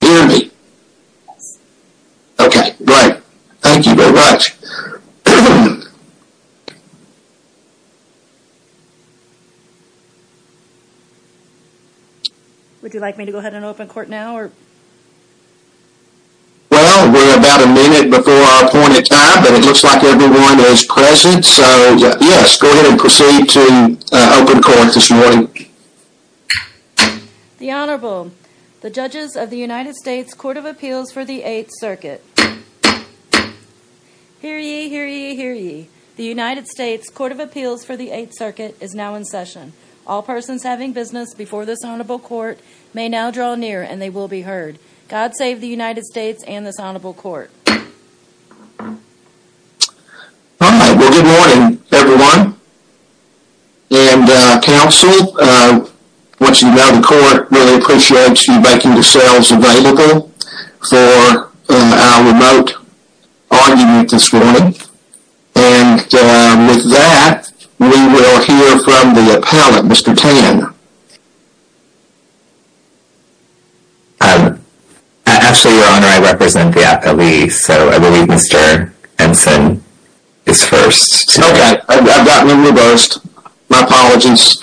hear me? Yes. Okay, great. Thank you very much. Would you like me to go ahead and open court now or? Well, we're about a minute before our appointed time, but it looks like everyone is present. So yes, go ahead and proceed to open court this morning. The Honorable, the judges of the United States Court of Appeals for the Eighth Circuit. Hear ye, hear ye, hear ye. The United States Court of Appeals for the Eighth Circuit is now in session. All persons having business before this Honorable Court may now draw near and they will be heard. God save the United States and this Honorable Court. Good morning, everyone. And counsel, once you know the court, really appreciate you making yourselves available for our remote argument this morning. And with that, we will hear from the appellant, Mr. Tan. Actually, Your Honor, I represent the appellee. So I believe Mr. Ensign is first. Okay, I've gotten him reversed. My apologies.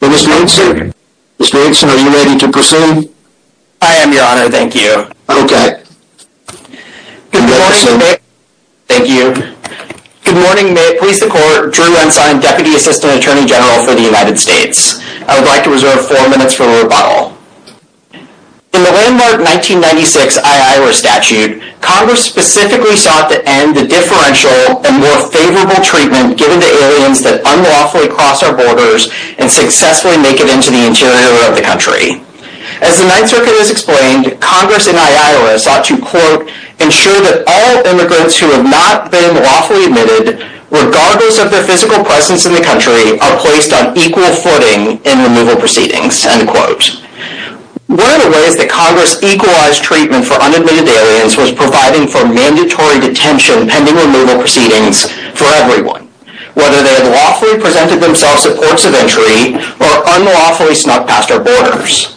Mr. Ensign, are you ready to proceed? I am, Your Honor. Thank you. Okay. Thank you. Good morning. May it please the court, Drew Ensign, Deputy Assistant Attorney General for the United States. I would like to reserve four minutes for rebuttal. In the landmark 1996 Iowa statute, Congress specifically sought to end the differential and more favorable treatment given to aliens that unlawfully cross our borders and successfully make it into the interior of the country. As the Ninth Circuit has explained, Congress in Iowa has sought to, quote, ensure that all immigrants who have not been lawfully admitted, regardless of their physical presence in the country, are placed on equal footing in removal proceedings, end quote. One of the ways that Congress equalized treatment for unadmitted aliens was providing for mandatory detention pending removal proceedings for everyone, whether they had lawfully presented themselves at ports of entry or unlawfully snuck past our borders.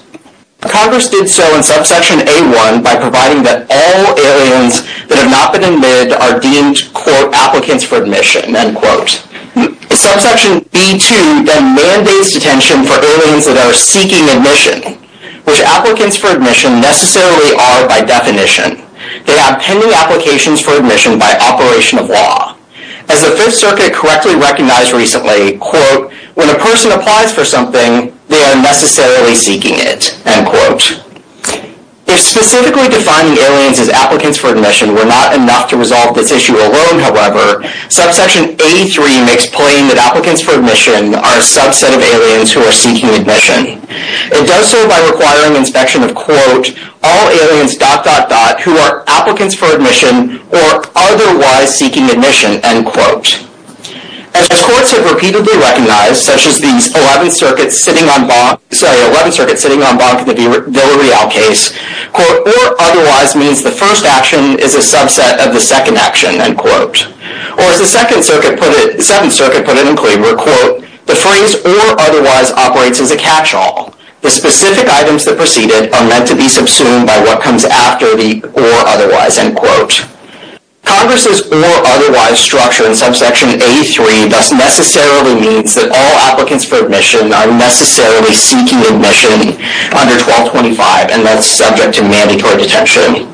Congress did so in subsection A-1 by providing that all aliens that have not been admitted are deemed, quote, applicants for admission, end quote. Subsection B-2 then mandates detention for aliens that are seeking admission, which applicants for admission necessarily are by definition. They have pending applications for admission by operation of law. As the Fifth Circuit correctly recognized recently, quote, when a person applies for something, they are necessarily seeking it, end quote. If specifically defining aliens as applicants for admission were not enough to resolve this issue alone, however, subsection A-3 makes plain that applicants for admission are a subset of aliens who are seeking admission. It does so by requiring inspection of, quote, all aliens, dot, dot, dot, who are applicants for admission or otherwise seeking admission, end quote. As courts have repeatedly recognized, such as these 11 circuits sitting on bonk, sorry, 11 circuits sitting on bonk in the Villarreal case, quote, or otherwise means the first action is a subset of the second action, end quote. Or as the Second Circuit put it, the Seventh Circuit put it in clear, quote, the phrase or otherwise operates as a catch all. The specific items that proceeded are meant to be subsumed by what comes after the or otherwise, end quote. Congress's or otherwise structure in subsection A-3 thus necessarily means that all applicants for admission are necessarily seeking admission under 1225, and that's subject to mandatory detention.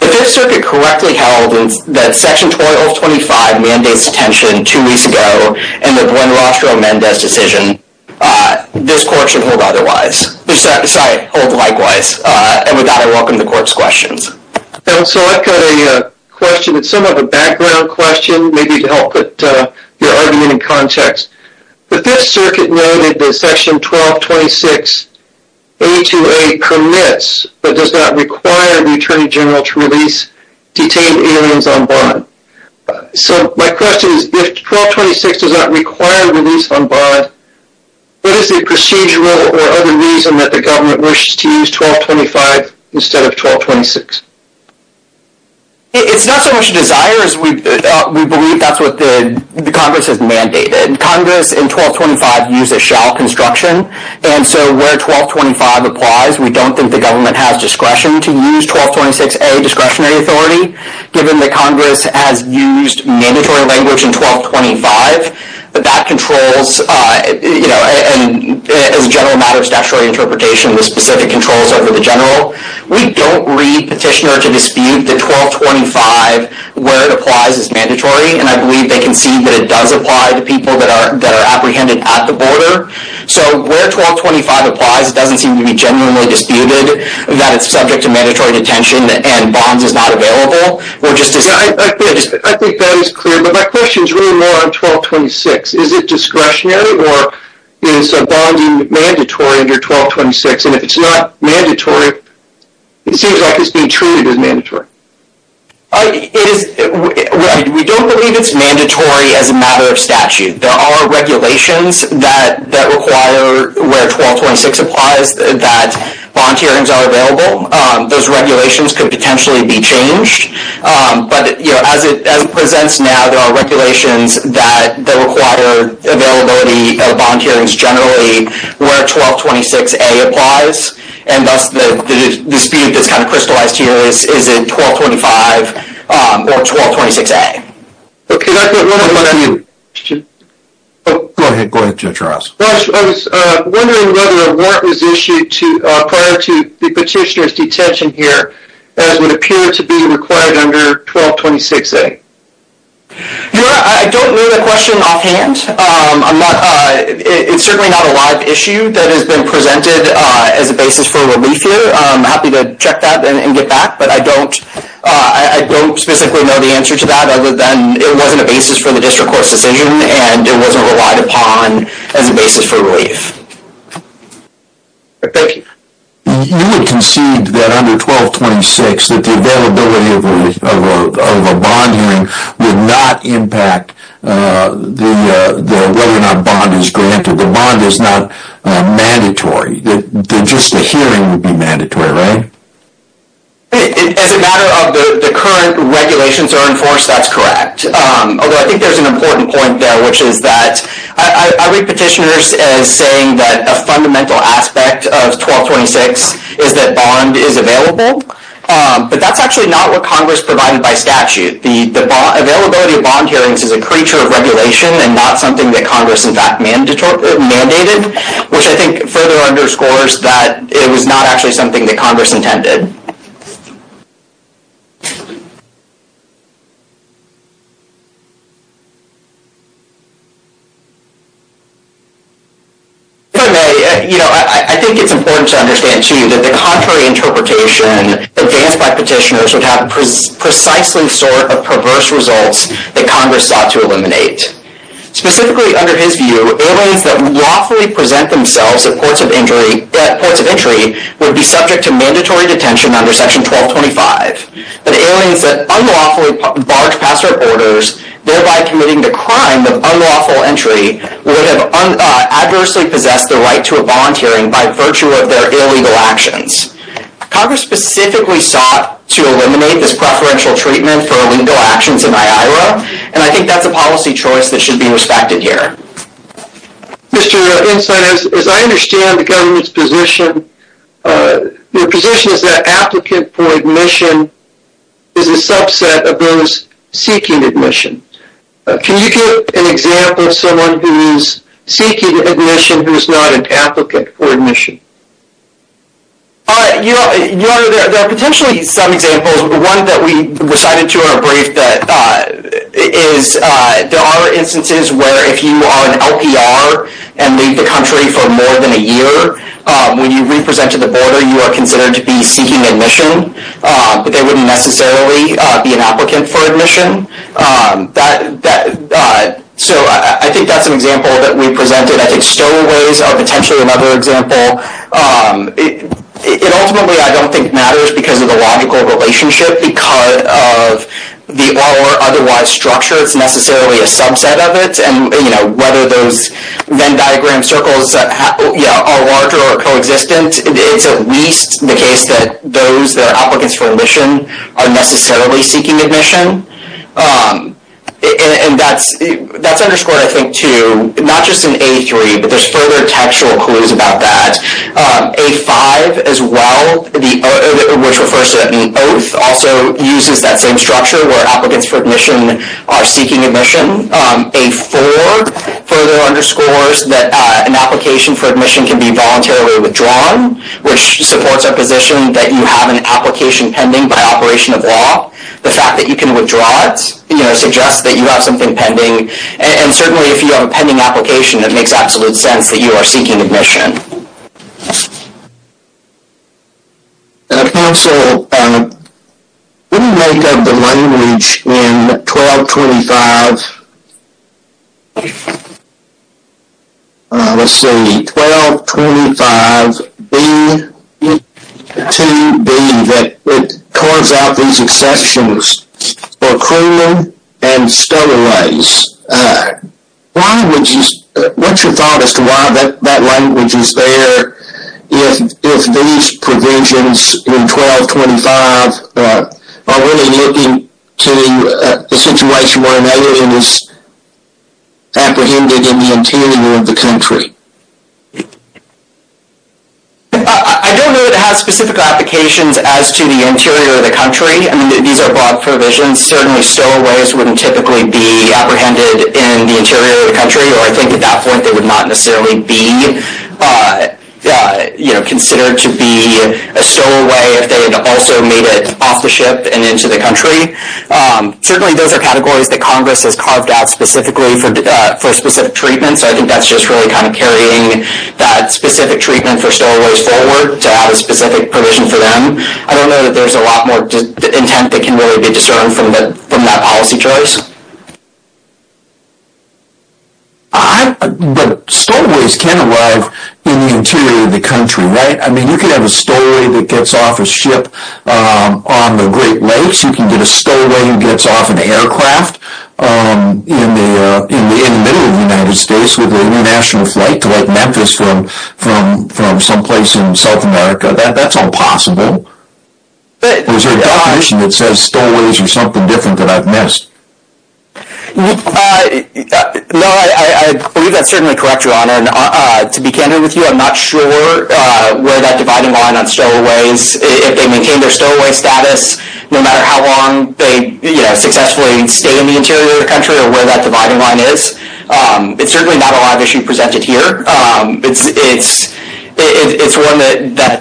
If this circuit correctly held that section 1225 mandates detention two weeks ago, and the Buenostro-Mendez decision, this court should hold otherwise. This side holds likewise, and with that, I welcome the court's questions. And so I've got a question that's somewhat of a background question, maybe to help put your argument in context. The Fifth does not require the Attorney General to release detained aliens on bond. So my question is, if 1226 does not require release on bond, what is the procedural or other reason that the government wishes to use 1225 instead of 1226? It's not so much a desire as we believe that's what the Congress has mandated. Congress in 1225 uses shall construction, and so where 1225 applies, we don't think the government has discretion to use 1226-A discretionary authority, given that Congress has used mandatory language in 1225, but that controls, you know, and as a general matter of statutory interpretation, the specific controls over the general. We don't read petitioner to dispute that 1225, where it applies is mandatory, and I believe they can see that it does apply to people that are apprehended at the border. So where 1225 applies, it doesn't seem to be genuinely disputed that it's subject to mandatory detention and bonds is not available. I think that is clear, but my question is really more on 1226. Is it discretionary or is a bonding mandatory under 1226? And if it's not mandatory, it seems like it's being treated as mandatory. We don't believe it's mandatory as a matter of statute. There are regulations that require, where 1226 applies, that bond hearings are available. Those regulations could potentially be changed, but as it presents now, there are regulations that require availability of bond hearings generally, where 1226-A applies, and thus the dispute that's kind of crystallized here is, is it 1225 or 1226-A? Go ahead, go ahead Judge Rask. I was wondering whether a warrant was issued prior to the petitioner's detention here, as would appear to be required under 1226-A. I don't know the question offhand. I'm not, it's certainly not a live issue that has been presented as a basis for relief here. I'm happy to check that and get back, but I don't, I don't specifically know the answer to that other than it wasn't a basis for the district court's decision, and it wasn't relied upon as a basis for relief. Thank you. You would concede that under 1226, that the availability of a bond hearing would not impact the, whether or not a bond is granted. The bond is not mandatory, that just a hearing would be mandatory, right? As a matter of the current regulations are enforced, that's correct. Although I think there's an important point there, which is that I read petitioners as saying that a fundamental aspect of 1226 is that bond is available, but that's actually not what Congress provided by statute. The availability of bond hearings is a creature of regulation and not something that Congress in fact mandated, which I think further underscores that it was not actually something that Congress intended. If I may, you know, I think it's important to understand too, that the contrary interpretation advanced by petitioners would have precisely sort of perverse results that Congress sought to eliminate. Specifically under his view, aliens that lawfully present themselves at ports of entry would be subject to mandatory detention under section 1225. But aliens that unlawfully barge past our borders, thereby committing the crime of unlawful entry, would have adversely possessed the right to a bond hearing by virtue of their illegal actions. Congress specifically sought to eliminate this preferential treatment for illegal actions in Niagara, and I think that's a policy choice that should be respected here. Mr. Insight, as I understand the government's position, the position is that applicant for admission is a subset of those seeking admission. Can you give an example of someone who is seeking admission who is not an applicant for admission? Your Honor, there are potentially some examples. One that we recited to our brief that is, there are instances where if you are an LPR and leave the country for more than a year, when you present to the border, you are considered to be seeking admission, but they wouldn't necessarily be an applicant for admission. So I think that's an example that we presented. I think stowaways are potentially another example. It ultimately, I don't think matters because of the logical relationship because of the all or otherwise structure. It's necessarily a subset of it, and you know, whether those Venn It's at least the case that those that are applicants for admission are necessarily seeking admission. And that's underscored, I think, too, not just in A3, but there's further textual clues about that. A5 as well, which refers to the oath, also uses that same structure where applicants for admission are seeking admission. A4 further underscores that an application for admission can be voluntarily withdrawn, which supports our position that you have an application pending by operation of law. The fact that you can withdraw it, you know, suggests that you have something pending, and certainly if you have a pending application, it makes absolute sense that you are seeking admission. Council, when you make up the language in 1225, let's see, 1225B2B, that it calls out these exceptions for crewmen and stowaways. What's your thought as to why that language is there if these provisions in 1225 are really looking to the situation where an alien is apprehended in the interior of the country? I don't know that it has specific applications as to the interior of the country. I mean, these are broad provisions. Certainly stowaways wouldn't typically be apprehended in the interior of the country, or I think at that point they would not necessarily be, you know, considered to be a stowaway if they had also made it off the ship and into the country. Certainly those are categories that Congress has carved out specifically for specific treatment. So I think that's just really kind of carrying that specific treatment for stowaways forward to have a specific provision for them. I don't know that there's a lot more intent that can really be discerned from that policy choice. But stowaways can arrive in the interior of the country, right? I mean, you can have a stowaway that gets off a ship on the Great Lakes. You can get a stowaway that gets off an aircraft in the middle of the United States with an international flight to Lake Memphis from someplace in South America. That's all possible. But is there a definition that says stowaways are something different that I've missed? No, I believe that's certainly correct, Your Honor. And to be candid with you, I'm not sure where that dividing line on stowaways, if they maintain their stowaway status, no matter how long they, you know, successfully stay in the interior of the country or where that dividing line is. It's certainly not a live issue presented here. It's one that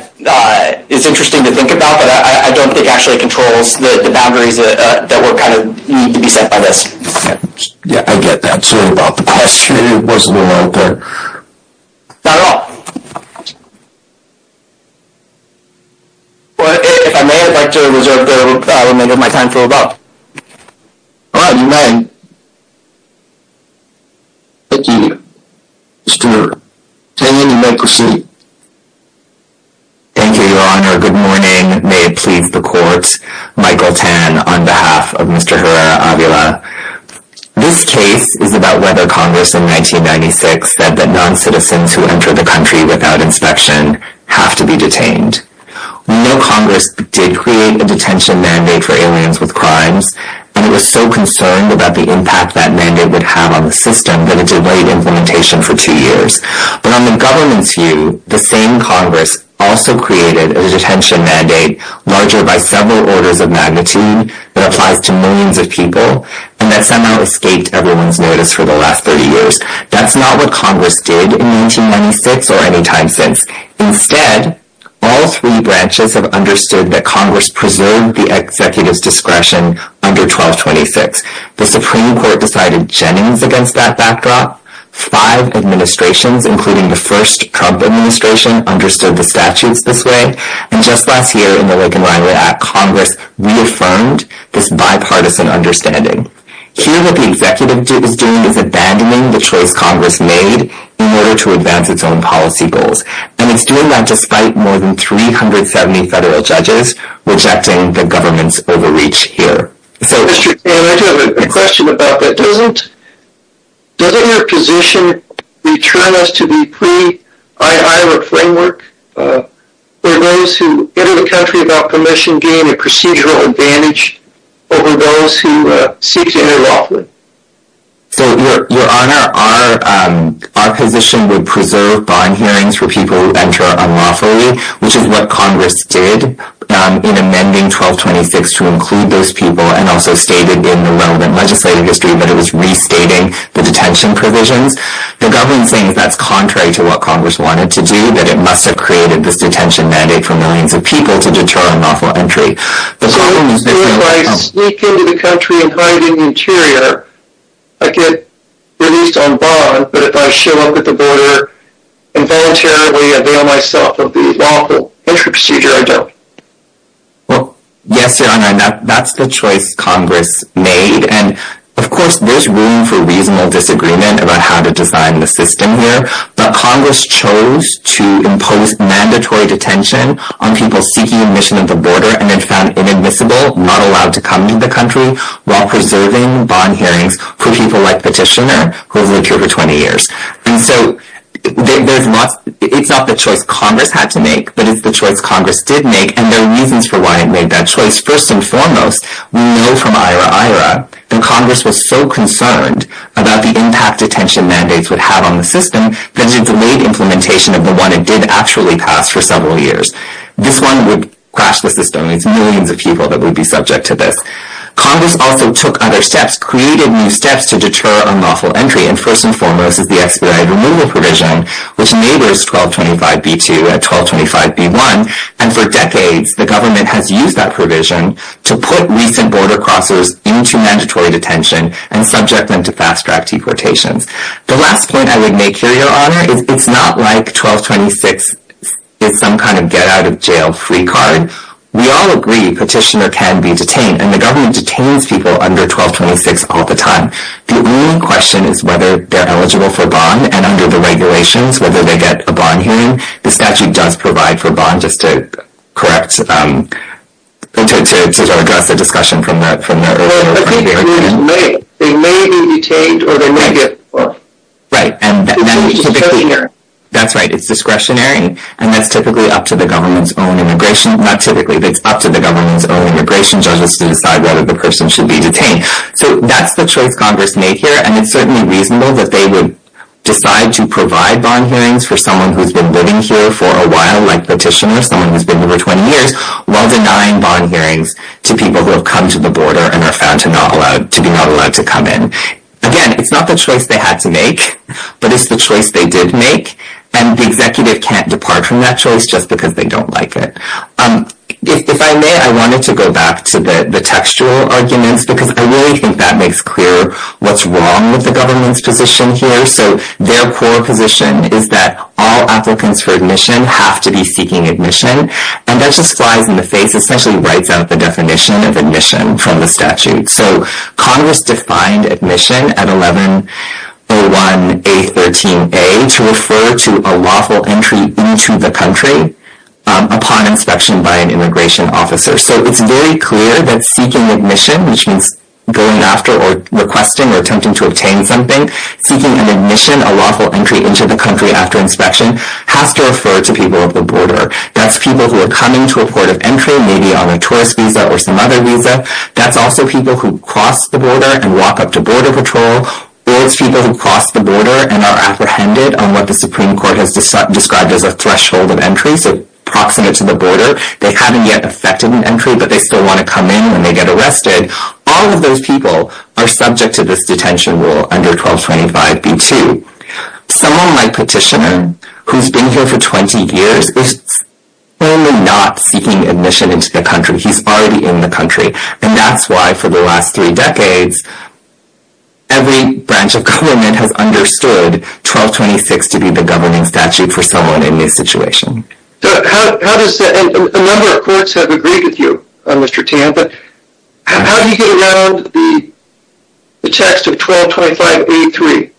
is interesting to think about, but I don't think it actually controls the boundaries that were kind of need to be set by this. Yeah, I get that too about the question. It wasn't allowed there. Not at all. Well, if I may, I'd like to reserve the remainder of my time for a vote. All right, you may. Thank you. Mr. Tan, you may proceed. Thank you, Your Honor. Good morning. May it please the Court. Michael Tan on behalf of Mr. Herrera Avila. This case is about whether Congress in 1996 said that non-citizens who enter the country without inspection have to be detained. No, Congress did create a detention mandate for aliens with crimes and it was so concerned about the impact that mandate would have on the system that it delayed implementation for two years. But on the government's view, the same Congress also created a detention mandate larger by several orders of magnitude that applies to millions of people and that somehow escaped everyone's notice for the last 30 years. That's not what Congress did in 1996 or any time since. Instead, all three branches have understood that Congress preserved the executive's discretion under 1226. The Supreme Court decided Jennings against that backdrop. Five administrations, including the first Trump administration, understood the statutes this way. And just last year in the Lincoln-Rineway Act, Congress reaffirmed this bipartisan understanding. Here, what the executive is doing is abandoning the choice Congress made in order to advance its own policy goals. And it's doing that despite more than 370 federal judges rejecting the government's overreach here. I do have a question about that. Doesn't your position return us to the pre-Iowa framework where those who enter the country without permission gain a procedural advantage over those who seek to enter lawfully? So, Your Honor, our position would preserve bond hearings for people who enter unlawfully, which is what Congress did in amending 1226 to include those people and also stated in the relevant legislative history, but it was restating the detention provisions. The government's saying that's contrary to what Congress wanted to do, that it must have created this detention mandate for millions of people to deter unlawful entry. So if I sneak into the country and hide in the interior, I get released on bond, but if I show up at the border and voluntarily avail myself of the unlawful entry procedure, I don't. Well, yes, Your Honor, that's the choice Congress made. And of course, there's room for reasonable disagreement about how to design the system here, but Congress chose to impose mandatory detention on people seeking admission at the border and then found inadmissible, not allowed to come to the country while preserving bond hearings for people like Petitioner, who has lived here for 20 years. And so it's not the choice Congress had to make, but it's the choice Congress did make, and there are reasons for why it made that choice. First and foremost, we know from IRA-IRA that Congress was so concerned about the impact detention mandates would have on the system that it delayed implementation of the one it did actually pass for several years. This one would crash the system. It's millions of people that would be subject to this. Congress also took other steps, created new steps to deter unlawful entry, and first and foremost is the expedited removal provision, which neighbors 1225b2 and 1225b1, and for decades the government has used that provision to put recent border crossers into mandatory detention and subject them to fast-track deportations. The last point I would make here, Your Honor, is it's not like 1226 is some kind of get-out-of-jail-free card. We all agree Petitioner can be detained, and the government detains people under 1226 all the time. The only question is whether they're eligible for bond, and under the regulations, whether they get a bond hearing. The statute does provide for bond, just to correct, to address the discussion from the earlier point of view. They may be detained, or they may get deported. Right, and that's right. It's discretionary, and that's typically up to the government's own immigration, not typically, but it's up to the government's own immigration judges to decide whether the person should be detained. So that's the choice Congress made here, and it's certainly reasonable that they would decide to provide bond hearings for someone who's been living here for a while, like Petitioner, someone who's been here for 20 years, while denying bond hearings to people who have come to the border and are found to be not allowed to come in. Again, it's not the choice they had to make, but it's the choice they did make, and the executive can't depart from that choice just because they don't like it. If I may, I wanted to go back to the textual arguments, because I really think that makes clear what's wrong with the government's position here. So their core position is that all applicants for admission have to be seeking admission, and that just flies in the face, essentially writes out the definition of admission from the statute. So Congress defined admission at 1101A13A to refer to a lawful entry into the country upon inspection by an immigration officer. So it's very clear that seeking admission, which means going after or requesting or attempting to obtain something, seeking an admission, a lawful entry into the country after inspection, has to refer to people of the border. That's people who are coming to a port of entry, maybe on a tourist visa or some other visa. That's also people who cross the border and walk up to Border Patrol, or it's people who cross the border and are apprehended on what the Supreme Court has described as a threshold of entry, so proximate to the border. They haven't yet effected an entry, but they still want to come in when they get arrested. All of those people are subject to this detention rule under 1225B2. Someone like Petitioner, who's been here for 20 years, is clearly not seeking admission into the country. He's already in the country. And that's why for the last three decades, every branch of government has understood 1226 to be the governing statute for someone in this situation. A number of courts have agreed with you, Mr. Tam, but how do you get around the text of 1225B3?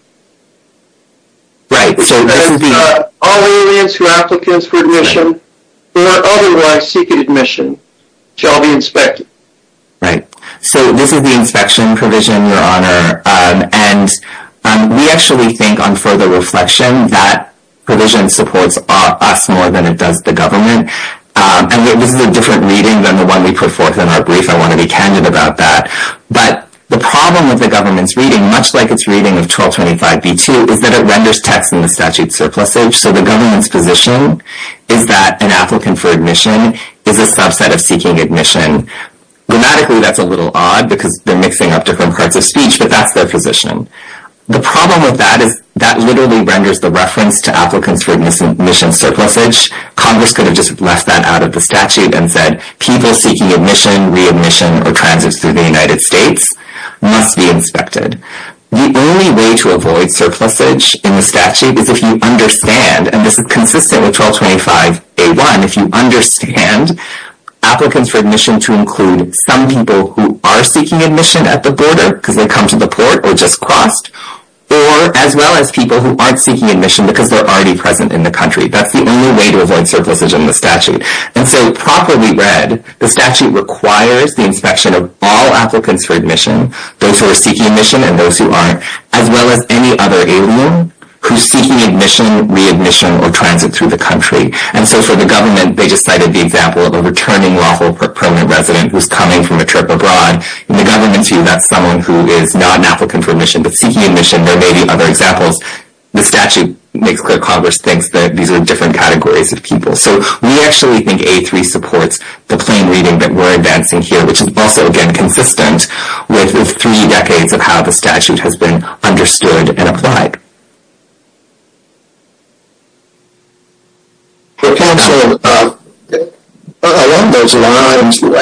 Right, so this is all aliens who are applicants for admission who are otherwise seeking admission, shall be inspected. Right. So this is the inspection provision, Your Honor, and we actually think on further reflection that provision supports us more than it does the government. And this is a different reading than the one we put forth in our brief. I want to be candid about that. But the problem with the government's reading, much like its reading of 1225B2, is that it renders text in the statute surplusage. So the government's position is that an applicant for admission is a subset of seeking admission. Grammatically, that's a little odd because they're mixing up different parts of speech, but that's their position. The problem with that is that literally renders the reference to applicants for admission surplusage. Congress could have just left that out of the statute and said people seeking admission, readmission, or transit through the United States must be inspected. The only way to avoid surplusage in the statute is if you understand, and this is consistent with 1225A1, if you understand applicants for admission to include some people who are seeking admission at the border because they come to the port or just crossed, or as well as people who aren't seeking admission because they're already present in the country. That's the only way to avoid surplusage in the statute. And so properly read, the statute requires the inspection of all applicants for admission, those who are seeking admission, and those who aren't, as well as any other alien who's seeking admission, readmission, or transit through the country. And so for the government, they just cited the example of a returning lawful permanent resident who's coming from a trip abroad. In the government's view, that's someone who is not an applicant for admission, but seeking admission. There may be other examples. The statute makes clear Congress thinks that these are different categories of people. So we actually think A3 supports the plain reading that we're advancing here, which is also, again, consistent with the three decades of how the statute has been understood and applied. So counsel, along those lines, I'm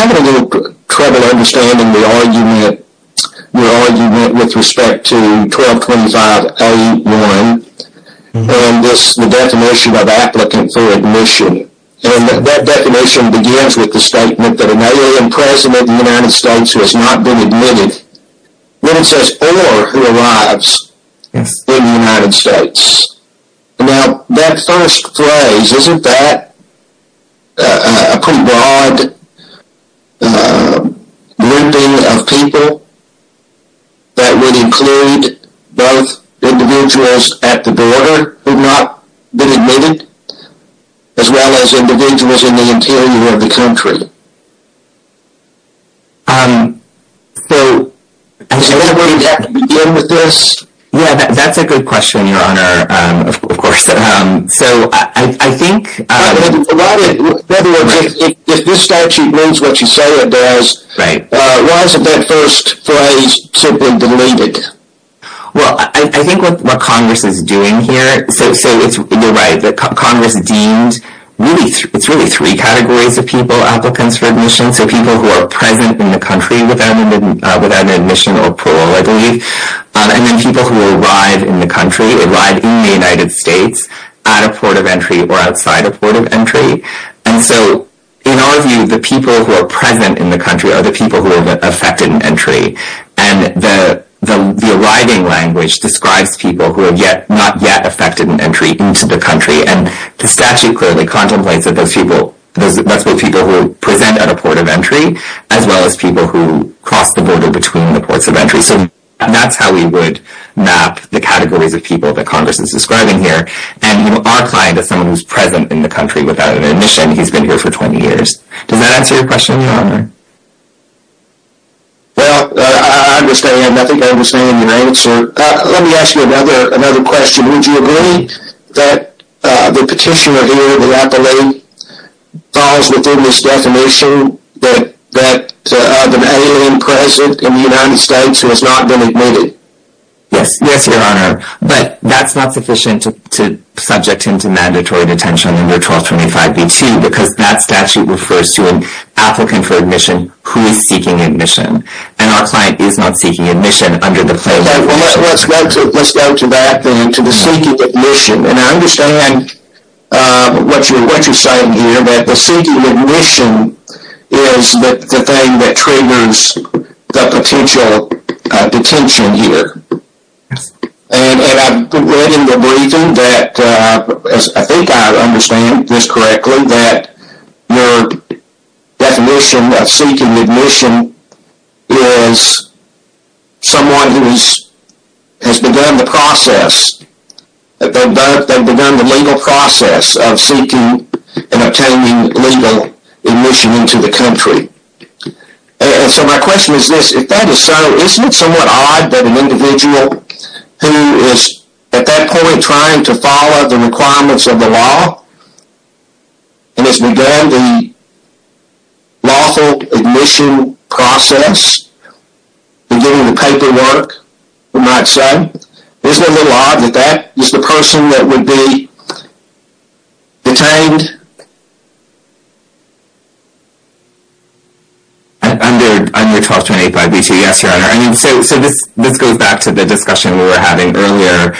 having a little trouble understanding the argument with respect to 1225A1, and the definition of applicant for admission. And that definition begins with the statement that an alien present in the United States who has not been admitted, then it says, or who arrives in the United States. Now, that first phrase, isn't that a pretty broad grouping of people that would include both individuals at the border who have not been admitted, as well as individuals in the interior of the country? So is there a way to begin with this? Yeah, that's a good question, Your Honor. Of course. So I think if this statute means what you say it does, why isn't that first phrase simply deleted? Well, I think what Congress is doing here, so you're right, that Congress deemed, it's really three categories of people, applicants for admission. So people who are present in the country without an admission or parole, I believe. And then people who arrive in the country, arrive in the United States at a port of entry or outside a port of entry. And so, in all of you, the people who are present in the country are the people who have affected an entry. And the arriving language describes people who have not yet affected an entry into the country. And the statute clearly contemplates that those people, that's the people who present at a port of entry, as well as people who cross the border between the ports of entry. So that's how we would map the categories of people that Congress is describing here. And our client is someone who's present in the country without an admission. He's been here for 20 years. Does that answer your question, Your Honor? Well, I understand. I think I understand your answer. Let me ask you another question. Would you agree that the petitioner here, the appellee, falls within this definition that an alien present in the United States has not been admitted? Yes. Yes, Your Honor. But that's not sufficient to subject him to mandatory detention under 1225b2, because that statute refers to an applicant for admission who is seeking admission. And our client is not seeking admission under the 1225b2. Okay, well, let's go to that then, to the seeking admission. And I understand what you're saying here, that the seeking admission is the thing that triggers the potential detention here. And I've read in the briefing that, I think I understand this correctly, that your definition of seeking admission is someone who has begun the process, they've begun the legal process of seeking and obtaining legal admission into the country. And so my question is this, if that is so, isn't it somewhat odd that an individual who is at that point trying to follow the requirements of the law and has begun the lawful admission process, beginning the paperwork, we might say, isn't it odd that that is the person that would be detained? Under 1225b2, yes, Your Honor. I mean, so this goes back to the discussion we were having earlier.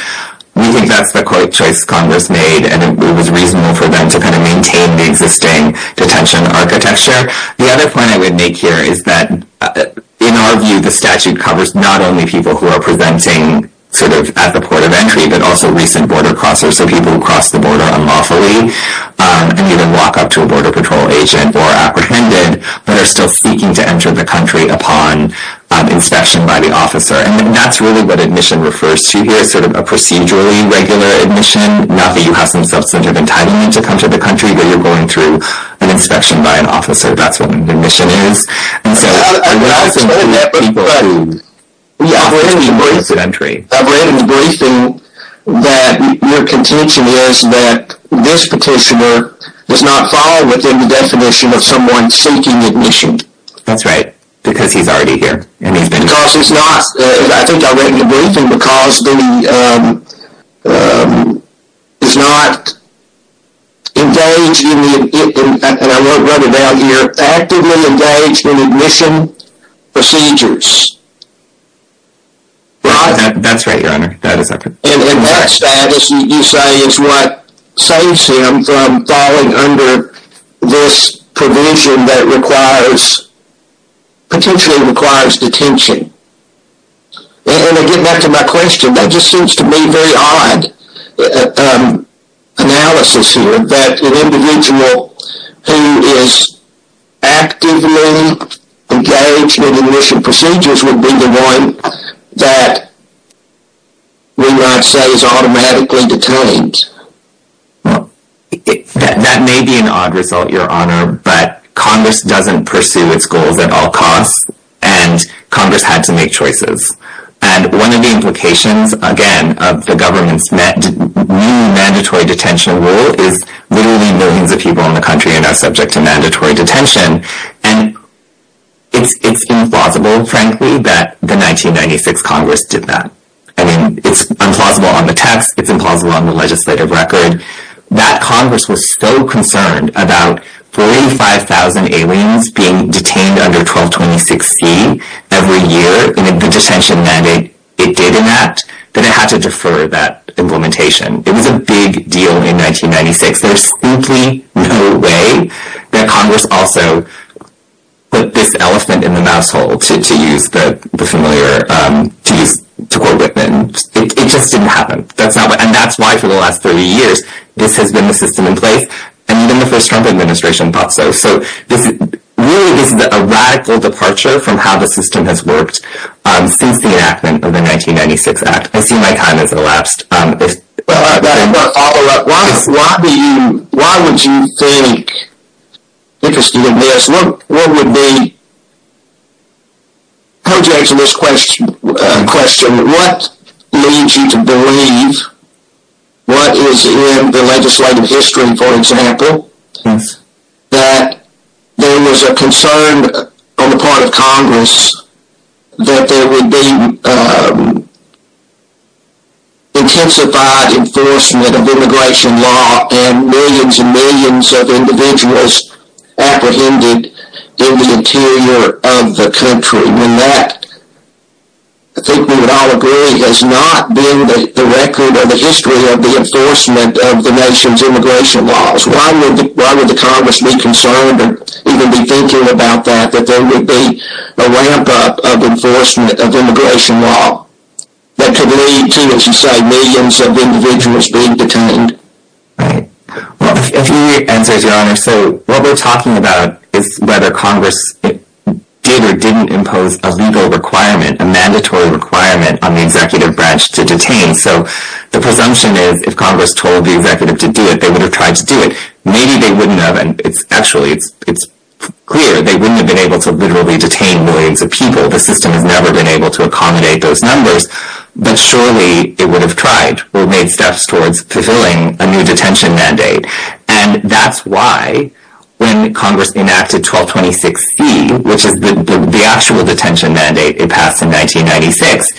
We think that's the choice Congress made, and it was reasonable for them to kind of maintain the existing detention architecture. The other point I would make here is that, in our view, the statute covers not only people who are presenting sort of at the port of entry, but also recent border crossers, so people who cross the border unlawfully and even walk up to a Border Patrol agent or apprehended, but are still seeking to enter the country upon inspection by the officer. And that's really what admission refers to here, sort of a procedurally regular admission, not that you have some substantive entitlement to come to the country, but you're going through an inspection by an officer. That's what an admission is. We operate in the briefing that your contention is that this petitioner does not fall within the definition of someone seeking admission. That's right, because he's already here. Because he's not, I think I read in the briefing, because he is not engaged, and I won't run it out here, actively engaged in admission procedures. That's right, your honor. And that status, you say, is what saves him from falling under this provision that requires, potentially requires detention. And getting back to my question, that just seems to be very odd analysis here, that an individual who is actively engaged in admission procedures would be the one that we might say is automatically detained. Well, that may be an odd result, your honor, but Congress doesn't pursue its goals at all costs, and Congress had to make choices. And one of the implications, again, of the government's new mandatory detention rule is literally millions of people in the country are now subject to mandatory detention, and it's implausible, frankly, that the 1996 Congress did that. I mean, it's implausible on the text, it's implausible on the legislative record, that Congress was so concerned about 45,000 aliens being detained under 1226C every year in a detention mandate it did enact, that it had to defer that implementation. It was a big deal in 1996. There's simply no way that Congress also put this elephant in the mouse hole, to use the familiar, to use, to quote Whitman, it just didn't happen. That's not what, and that's why for the last 30 years, this has been the system in place, and even the first Trump administration thought so. So this is really, this is a radical departure from how the system has worked since the enactment of the 1996 Act. I see my time has elapsed. Why would you think, interestingly enough, what would be, how would you believe what is in the legislative history, for example, that there was a concern on the part of Congress that there would be intensified enforcement of immigration law and millions and millions of individuals apprehended in the interior of the country, when that, I think we would all agree, has not been the record or the history of the enforcement of the nation's immigration laws. Why would the Congress be concerned or even be thinking about that, that there would be a ramp up of enforcement of immigration law that could lead to, as you say, millions of individuals being detained? Right. Well, a few answers, Your Honor. So what we're talking about is whether Congress did or didn't impose a legal requirement, a mandatory requirement, on the executive branch to detain. So the presumption is, if Congress told the executive to do it, they would have tried to do it. Maybe they wouldn't have, and it's actually, it's clear, they wouldn't have been able to literally detain millions of people. The system has never been able to accommodate those numbers, but surely it would have tried or made steps towards fulfilling a new detention mandate. And that's why, when Congress enacted 1226C, which is the actual detention mandate it passed in 1996,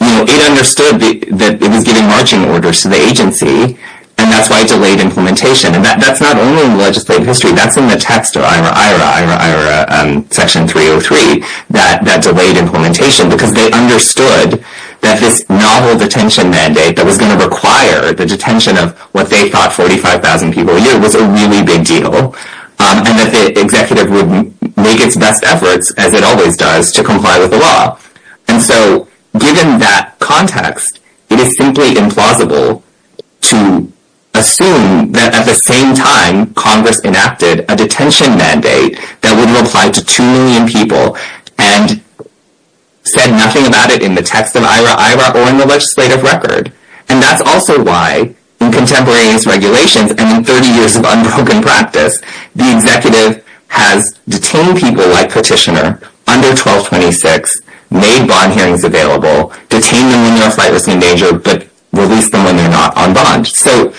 you know, it understood that it was giving marching orders to the agency, and that's why it delayed implementation. And that's not only in the legislative history. That's in the text of IHRA, IHRA, IHRA Section 303, that delayed implementation, because they understood that this novel detention mandate that was going to require the detention of what they thought 45,000 people a year was a really big deal, and that the executive would make its best efforts, as it always does, to comply with the law. And so, given that context, it is simply implausible to assume that at the same time Congress enacted a detention mandate that would have applied to 2 million people and said nothing about it in the text of IHRA, IHRA, or in the legislative record. And that's also why, in contemporaneous regulations and in 30 years of unbroken practice, the executive has detained people like Petitioner, under 1226, made bond hearings available, detained them when they're flightless and endangered, but released them when they're not on bond. So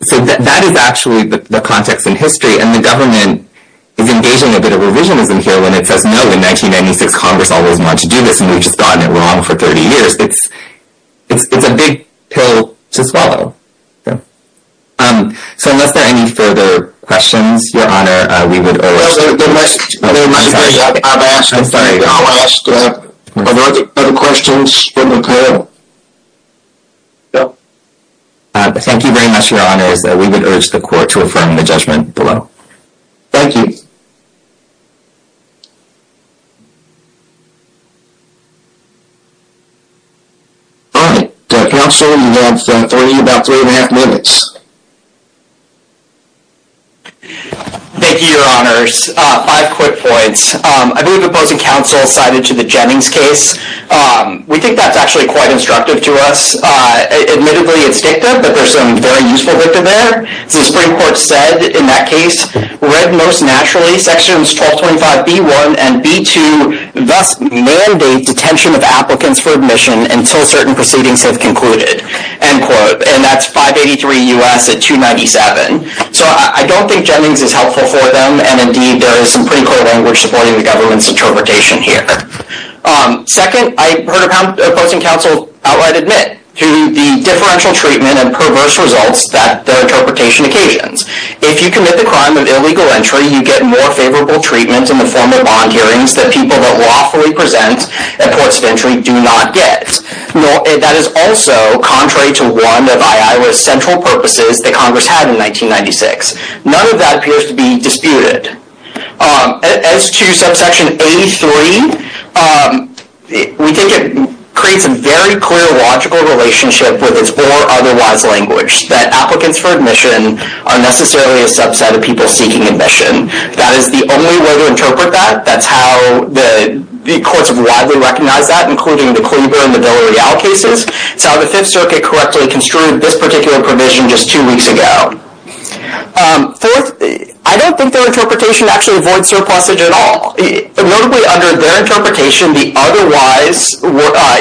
that is actually the context in history, and the government is engaging a bit of revisionism here when it says, no, in 1996 Congress always wanted to do this, and we've just gotten it wrong for 30 years. It's a big pill to swallow. So unless there are any further questions, Your Honor, we would urge the court to affirm the judgment below. Thank you. All right, Counsel, you have about three and a half minutes. Thank you, Your Honors. Five quick points. I believe the opposing counsel cited to the Jennings case, we think that's actually quite instructive to us. Admittedly, it's dictative, but there's some very useful victor there. As the Supreme Court said in that case, read most naturally, sections 1225B1 and B2 thus mandate detention of applicants for admission until certain proceedings have concluded, end quote, and that's 583 U.S. at 297. So I don't think Jennings is helpful for them, and indeed, there is some pretty cool language supporting the government's interpretation here. Second, I heard opposing counsel outright admit to the differential treatment and perverse results that the interpretation occasions. If you commit the crime of illegal entry, you get more favorable treatment in the form of bond hearings that people that lawfully present at ports of entry do not get. That is also contrary to one of IOWA's central purposes that Congress had in 1996. None of that appears to be disputed. As to subsection A3, we think it creates a very clear logical relationship with its or otherwise language that applicants for admission are necessarily a subset of people seeking admission. That is the only way to interpret that. That's how the courts have widely recognized that, including the Cleaver and the De La Real cases. It's how the Fifth Circuit correctly construed this particular provision just two weeks ago. Fourth, I don't think their interpretation actually avoids surplusage at all. Notably, under their interpretation, the otherwise,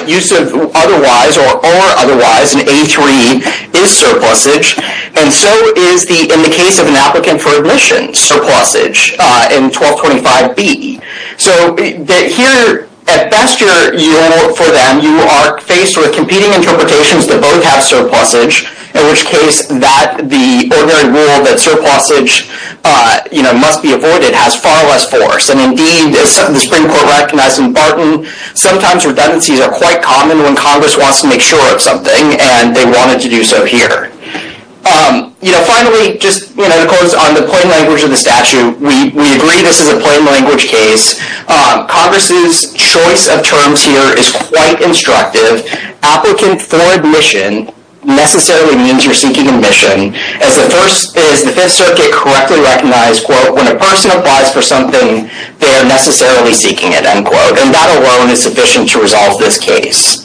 use of otherwise or or otherwise in A3 is surplusage. And so is the, in the case of an applicant for admission, surplusage in 1225B. So here, at best, for them, you are faced with competing interpretations that both have surplusage, in which case that the ordinary rule that surplusage must be avoided has far less force. And indeed, the Supreme Court recognized in Barton, sometimes redundancies are quite common when Congress wants to make sure of something, and they wanted to do so here. You know, finally, just, you know, of course, on the plain language of the statute, we agree this is a plain language case. Congress's choice of terms here is quite instructive. Applicant for admission necessarily means you're seeking admission. As the First, as the Fifth Circuit correctly recognized, quote, when a person applies for something, they're necessarily seeking it, end quote. And that alone is sufficient to resolve this case.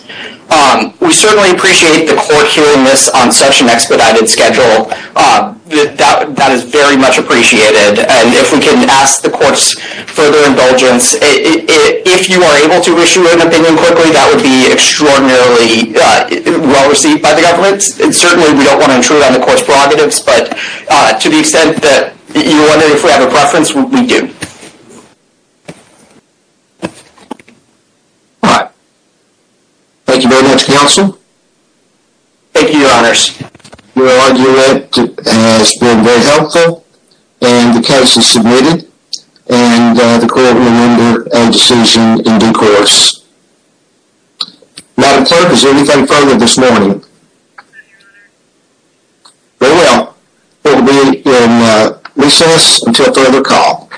We certainly appreciate the Court hearing this on such an expedited schedule. That is very much appreciated. And if we can ask the Court's further indulgence, if you are able to issue an opinion quickly, that would be extraordinarily well-received by the government. Certainly, we don't want to intrude on the Court's prerogatives, but to the extent that you wonder if we have a preference, we do. All right. Thank you very much, Counsel. Thank you, Your Honors. Your argument has been very helpful, and the case is submitted, and the Court will render a decision in due course. Madam Clerk, is there anything further this morning? Very well. We will be in recess until further call.